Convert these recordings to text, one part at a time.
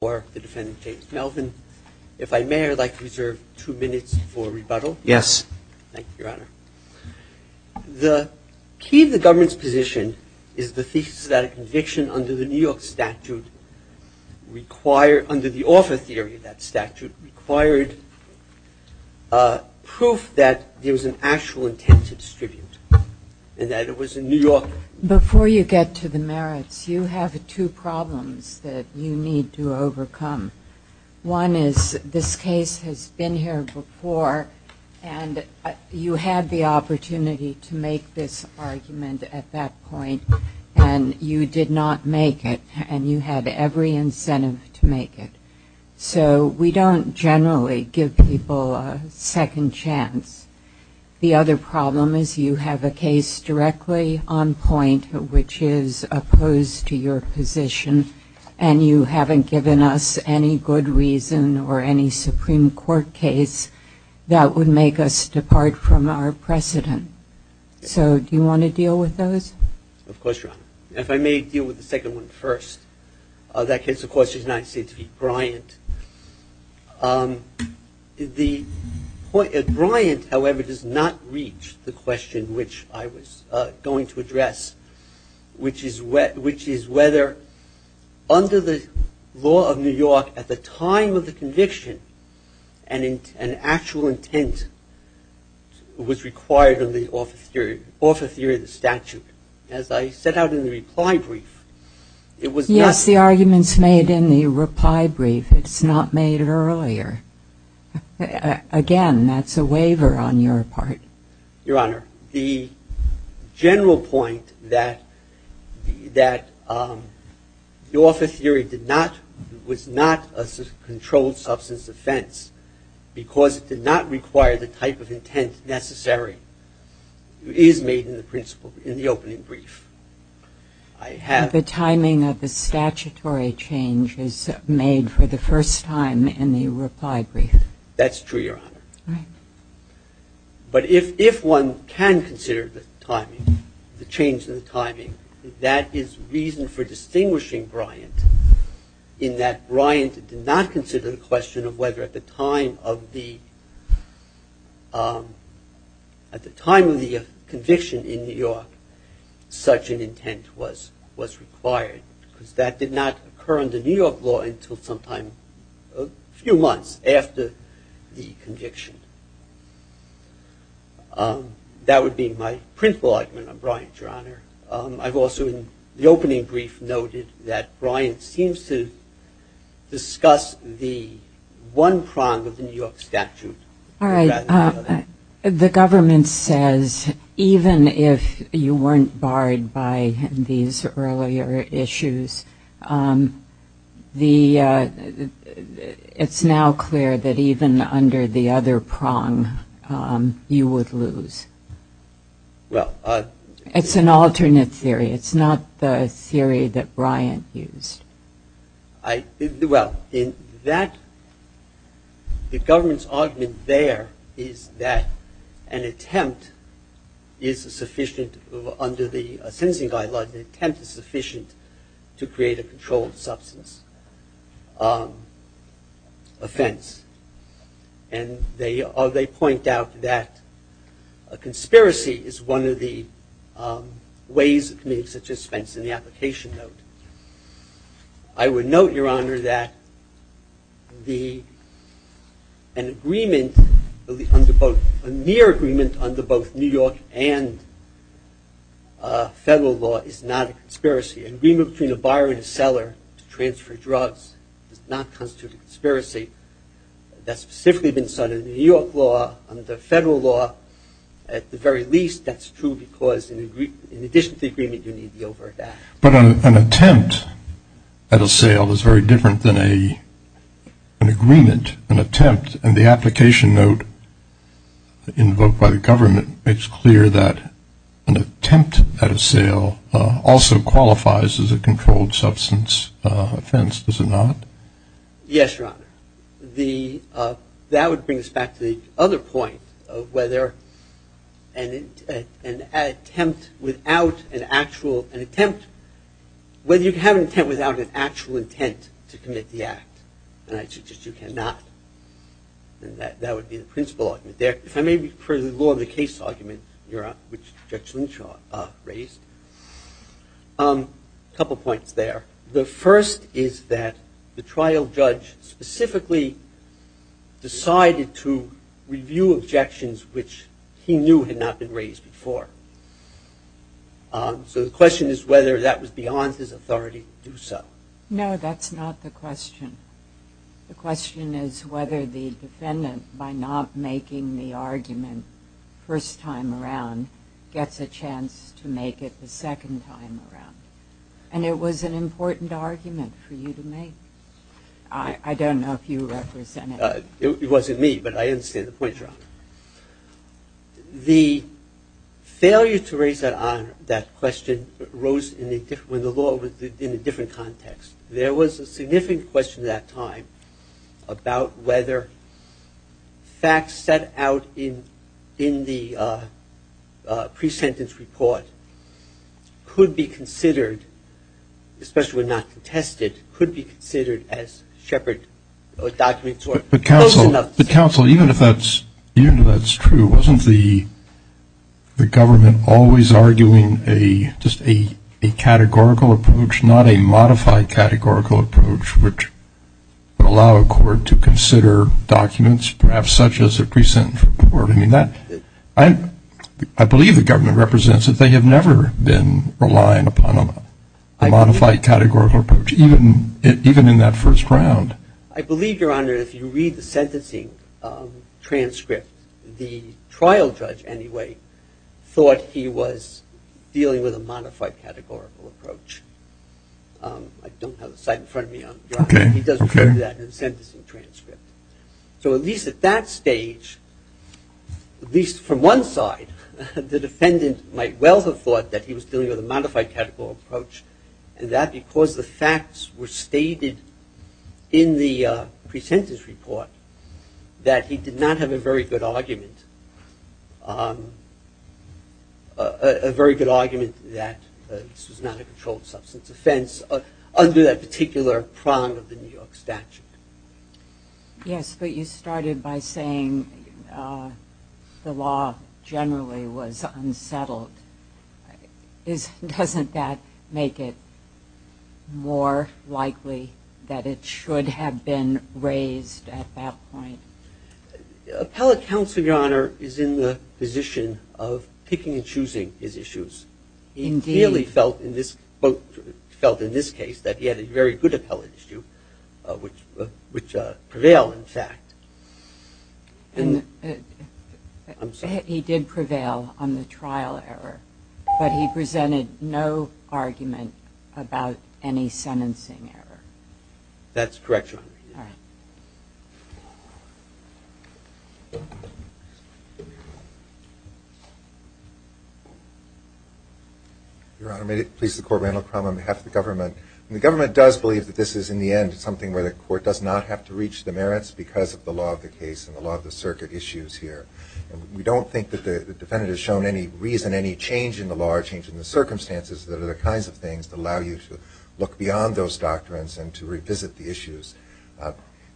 If I may, I'd like to reserve two minutes for rebuttal. Yes. Thank you, Your Honor. The key to the government's position is the thesis that a conviction under the New York statute required, under the offer theory of that statute, required proof that there was an actual intent to distribute and that it was in New York. Before you get to the merits, you have two problems that you need to overcome. One is this case has been here before, and you had the opportunity to make this argument at that point, and you did not make it, and you had every incentive to make it. So we don't generally give people a second chance. The other problem is you have a case directly on point which is opposed to your position, and you haven't given us any good reason or any Supreme Court case that would make us depart from our precedent. So do you want to deal with those? Of course, Your Honor. If I may deal with the second one first. The point at Bryant, however, does not reach the question which I was going to address, which is whether under the law of New York, at the time of the conviction, an actual intent was required under the offer theory of the statute. As I set out in the reply brief, it was not. It's the arguments made in the reply brief. It's not made earlier. Again, that's a waiver on your part. Your Honor, the general point that the offer theory was not a controlled substance offense because it did not require the type of intent necessary is made in the principle in the opening brief. The timing of the statutory change is made for the first time in the reply brief. That's true, Your Honor. All right. But if one can consider the timing, the change in the timing, that is reason for distinguishing Bryant in that Bryant did not consider the question of whether at the time of the conviction in New York such an intent was required because that did not occur under New York law until sometime a few months after the conviction. That would be my principle argument on Bryant, Your Honor. I've also in the opening brief noted that Bryant seems to discuss the one prong of the New York statute. All right. The government says even if you weren't barred by these earlier issues, it's now clear that even under the other prong you would lose. It's an alternate theory. It's not the theory that Bryant used. Well, the government's argument there is that an attempt is sufficient under the sentencing guidelines, an attempt is sufficient to create a controlled substance offense. And they point out that a conspiracy is one of the ways of committing such offense in the application note. I would note, Your Honor, that an agreement under both, a near agreement under both New York and federal law is not a conspiracy. An agreement between a buyer and a seller to transfer drugs does not constitute a conspiracy. That's specifically been cited in New York law, under federal law. At the very least, that's true because in addition to the agreement, you need the overt act. But an attempt at a sale is very different than an agreement, an attempt. It's clear that an attempt at a sale also qualifies as a controlled substance offense, does it not? Yes, Your Honor. That would bring us back to the other point of whether an attempt without an actual, an attempt, whether you can have an attempt without an actual intent to commit the act. And I suggest you cannot. And that would be the principal argument there. If I may, for the law of the case argument, Your Honor, which Judge Lynch raised, a couple points there. The first is that the trial judge specifically decided to review objections which he knew had not been raised before. So the question is whether that was beyond his authority to do so. The question is whether the defendant, by not making the argument first time around, gets a chance to make it the second time around. And it was an important argument for you to make. I don't know if you represent it. It wasn't me, but I understand the point, Your Honor. The failure to raise that question arose when the law was in a different context. There was a significant question at that time about whether facts set out in the pre-sentence report could be considered, especially when not contested, could be considered as shepherd documents. But counsel, even if that's true, wasn't the government always arguing just a categorical approach, not a modified categorical approach, which would allow a court to consider documents perhaps such as a pre-sentence report? I believe the government represents that they have never been relying upon a modified categorical approach, even in that first round. I believe, Your Honor, if you read the sentencing transcript, the trial judge, anyway, thought he was dealing with a modified categorical approach. I don't have the site in front of me. He does refer to that in the sentencing transcript. So at least at that stage, at least from one side, the defendant might well have thought that he was dealing with a modified categorical approach, and that because the facts were stated in the pre-sentence report, that he did not have a very good argument, a very good argument that this was not a controlled substance offense under that particular prong of the New York statute. Yes, but you started by saying the law generally was unsettled. Doesn't that make it more likely that it should have been raised at that point? Appellate counsel, Your Honor, is in the position of picking and choosing his issues. He really felt in this case that he had a very good appellate issue, which prevailed, in fact. I'm sorry. He did prevail on the trial error, but he presented no argument about any sentencing error. That's correct, Your Honor. All right. Your Honor, may it please the Court, Randall Crum on behalf of the government. The government does believe that this is, in the end, something where the Court does not have to reach the merits because of the law of the case and the law of the circuit issues here. We don't think that the defendant has shown any reason, any change in the law or change in the circumstances, that are the kinds of things that allow you to look beyond those doctrines and to revisit the issues. Did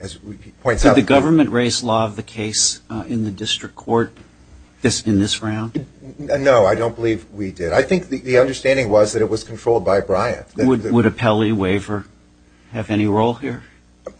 the government raise law of the case in the district court in this round? No, I don't believe we did. I think the understanding was that it was controlled by Bryant. Would appellee waiver have any role here?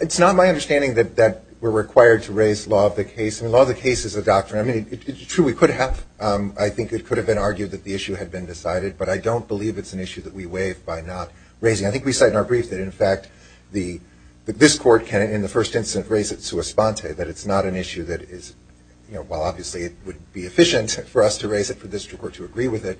It's not my understanding that we're required to raise law of the case. Law of the case is a doctrine. It's true we could have. I think it could have been argued that the issue had been decided, but I don't believe it's an issue that we waive by not raising it. I think we said in our brief that, in fact, this Court can, in the first instance, raise it sua sponte, that it's not an issue that is, while obviously it would be efficient for us to raise it for this district court to agree with it,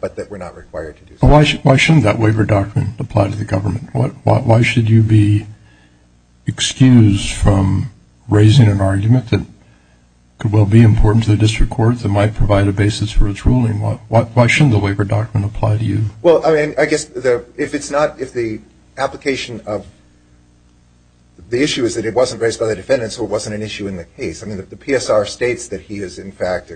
but that we're not required to do so. Why shouldn't that waiver doctrine apply to the government? Why should you be excused from raising an argument that could well be important to the district court that might provide a basis for its ruling? Why shouldn't the waiver doctrine apply to you? Well, I mean, I guess if it's not, if the application of the issue is that it wasn't raised by the defendant so it wasn't an issue in the case, I mean, if the PSR states that he is, in fact,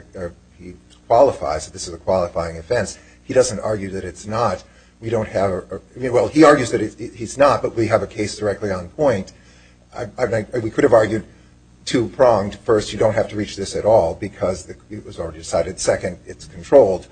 he qualifies that this is a qualifying offense, he doesn't argue that it's not. We don't have a, I mean, well, he argues that he's not, but we have a case directly on point. I think we could have argued two pronged. First, you don't have to reach this at all because it was already decided. Second, it's controlled.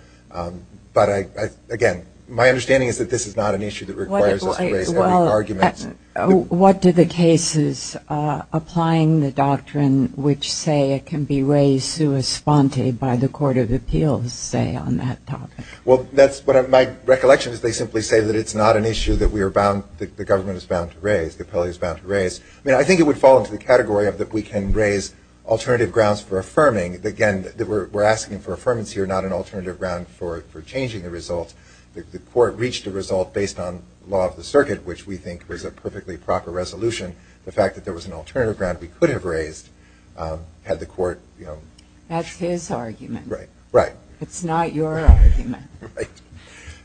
But, again, my understanding is that this is not an issue that requires us to raise any arguments. What do the cases applying the doctrine which say it can be raised sua sponte by the Court of Appeals say on that topic? Well, that's what my recollection is they simply say that it's not an issue that we are bound, that the government is bound to raise, the appellee is bound to raise. I mean, I think it would fall into the category of that we can raise alternative grounds for affirming. Again, we're asking for affirmance here, not an alternative ground for changing the result. The court reached a result based on law of the circuit, which we think was a perfectly proper resolution. The fact that there was an alternative ground we could have raised had the court, you know. That's his argument. Right. Right. It's not your argument. Right.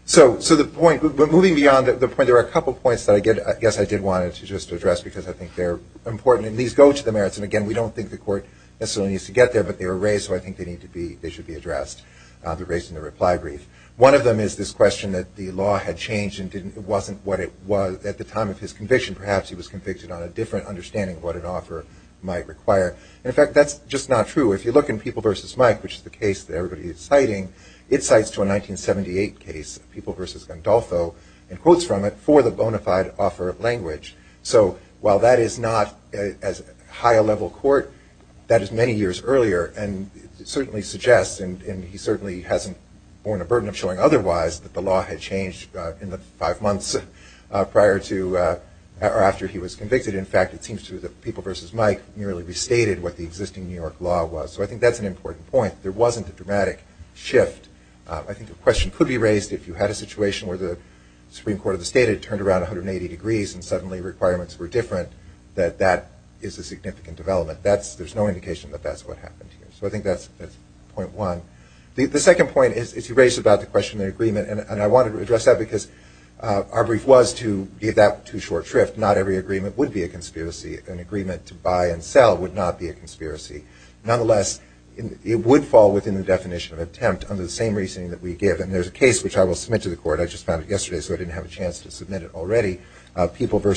So the point, but moving beyond the point, there are a couple points that I guess I did want to just address because I think they're important, and these go to the merits. And, again, we don't think the court necessarily needs to get there, but they were raised, so I think they need to be, they should be addressed. They're raised in the reply brief. One of them is this question that the law had changed and it wasn't what it was at the time of his conviction. Perhaps he was convicted on a different understanding of what an offer might require. And, in fact, that's just not true. If you look in People v. Mike, which is the case that everybody is citing, it cites to a 1978 case, People v. Gandolfo, and quotes from it, for the bona fide offer of language. So while that is not as high a level court, that is many years earlier, and it certainly suggests, and he certainly hasn't borne a burden of showing otherwise, that the law had changed in the five months prior to or after he was convicted. In fact, it seems to me that People v. Mike merely restated what the existing New York law was. So I think that's an important point. There wasn't a dramatic shift. I think the question could be raised if you had a situation where the Supreme Court of the State had turned around 180 degrees and suddenly requirements were different, that that is a significant development. There's no indication that that's what happened here. So I think that's point one. The second point is you raised about the question of agreement, and I wanted to address that because our brief was to give that to short shrift. Not every agreement would be a conspiracy. An agreement to buy and sell would not be a conspiracy. Nonetheless, it would fall within the definition of attempt under the same reasoning that we give. And there's a case, which I will submit to the court. I just found it yesterday, so I didn't have a chance to submit it already, People v.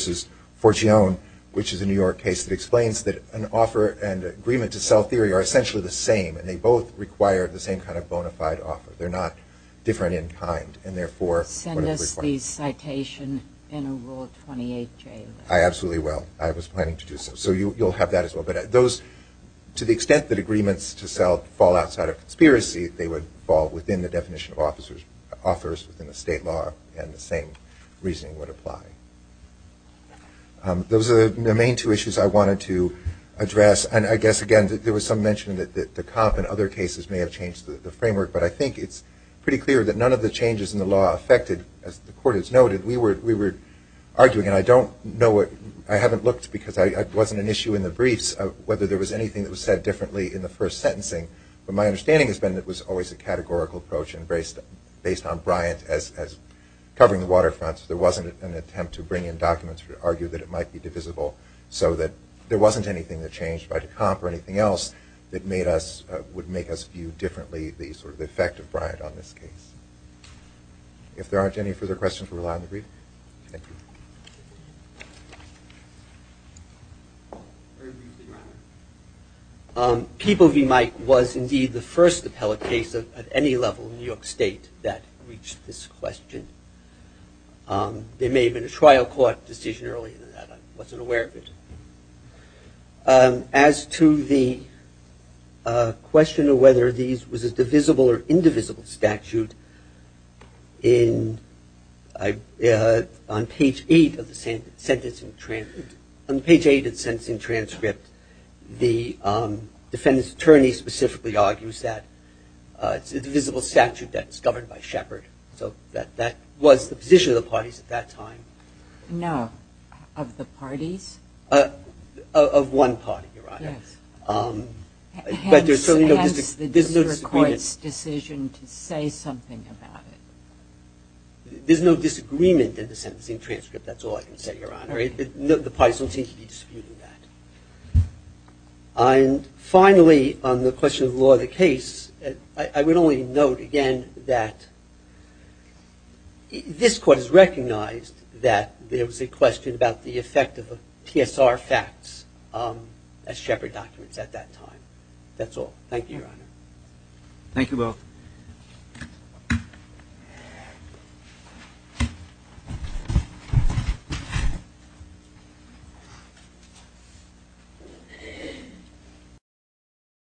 Forgione, which is a New York case that explains that an offer and agreement to sell theory are essentially the same, and they both require the same kind of bona fide offer. They're not different in kind, and therefore, Send us the citation in Rule 28J. I absolutely will. I was planning to do so. So you'll have that as well. But those, to the extent that agreements to sell fall outside of conspiracy, they would fall within the definition of offers within the state law, and the same reasoning would apply. Those are the main two issues I wanted to address. And I guess, again, there was some mention that the comp and other cases may have changed the framework. But I think it's pretty clear that none of the changes in the law affected, as the court has noted. We were arguing, and I don't know what – I haven't looked because it wasn't an issue in the briefs, whether there was anything that was said differently in the first sentencing. But my understanding has been that it was always a categorical approach, and based on Bryant as covering the waterfront, there wasn't an attempt to bring in documents to argue that it might be divisible, so that there wasn't anything that changed by the comp or anything else that made us – would make us view differently the sort of effect of Bryant on this case. If there aren't any further questions, we'll rely on the brief. Thank you. Very briefly, rather. People v. Mike was indeed the first appellate case at any level in New York State that reached this question. There may have been a trial court decision earlier than that. I wasn't aware of it. As to the question of whether these was a divisible or indivisible statute, on page 8 of the sentencing transcript, the defendant's attorney specifically argues that it's a divisible statute that's governed by Shepard. So that was the position of the parties at that time. No. Of the parties? Of one party, Your Honor. Yes. But there's certainly no – Hence the district court's decision to say something about it. There's no disagreement in the sentencing transcript. That's all I can say, Your Honor. The parties don't seem to be disputing that. And finally, on the question of the law of the case, I would only note again that this court has recognized that there was a question about the effect of the PSR facts as Shepard documents at that time. Thank you both.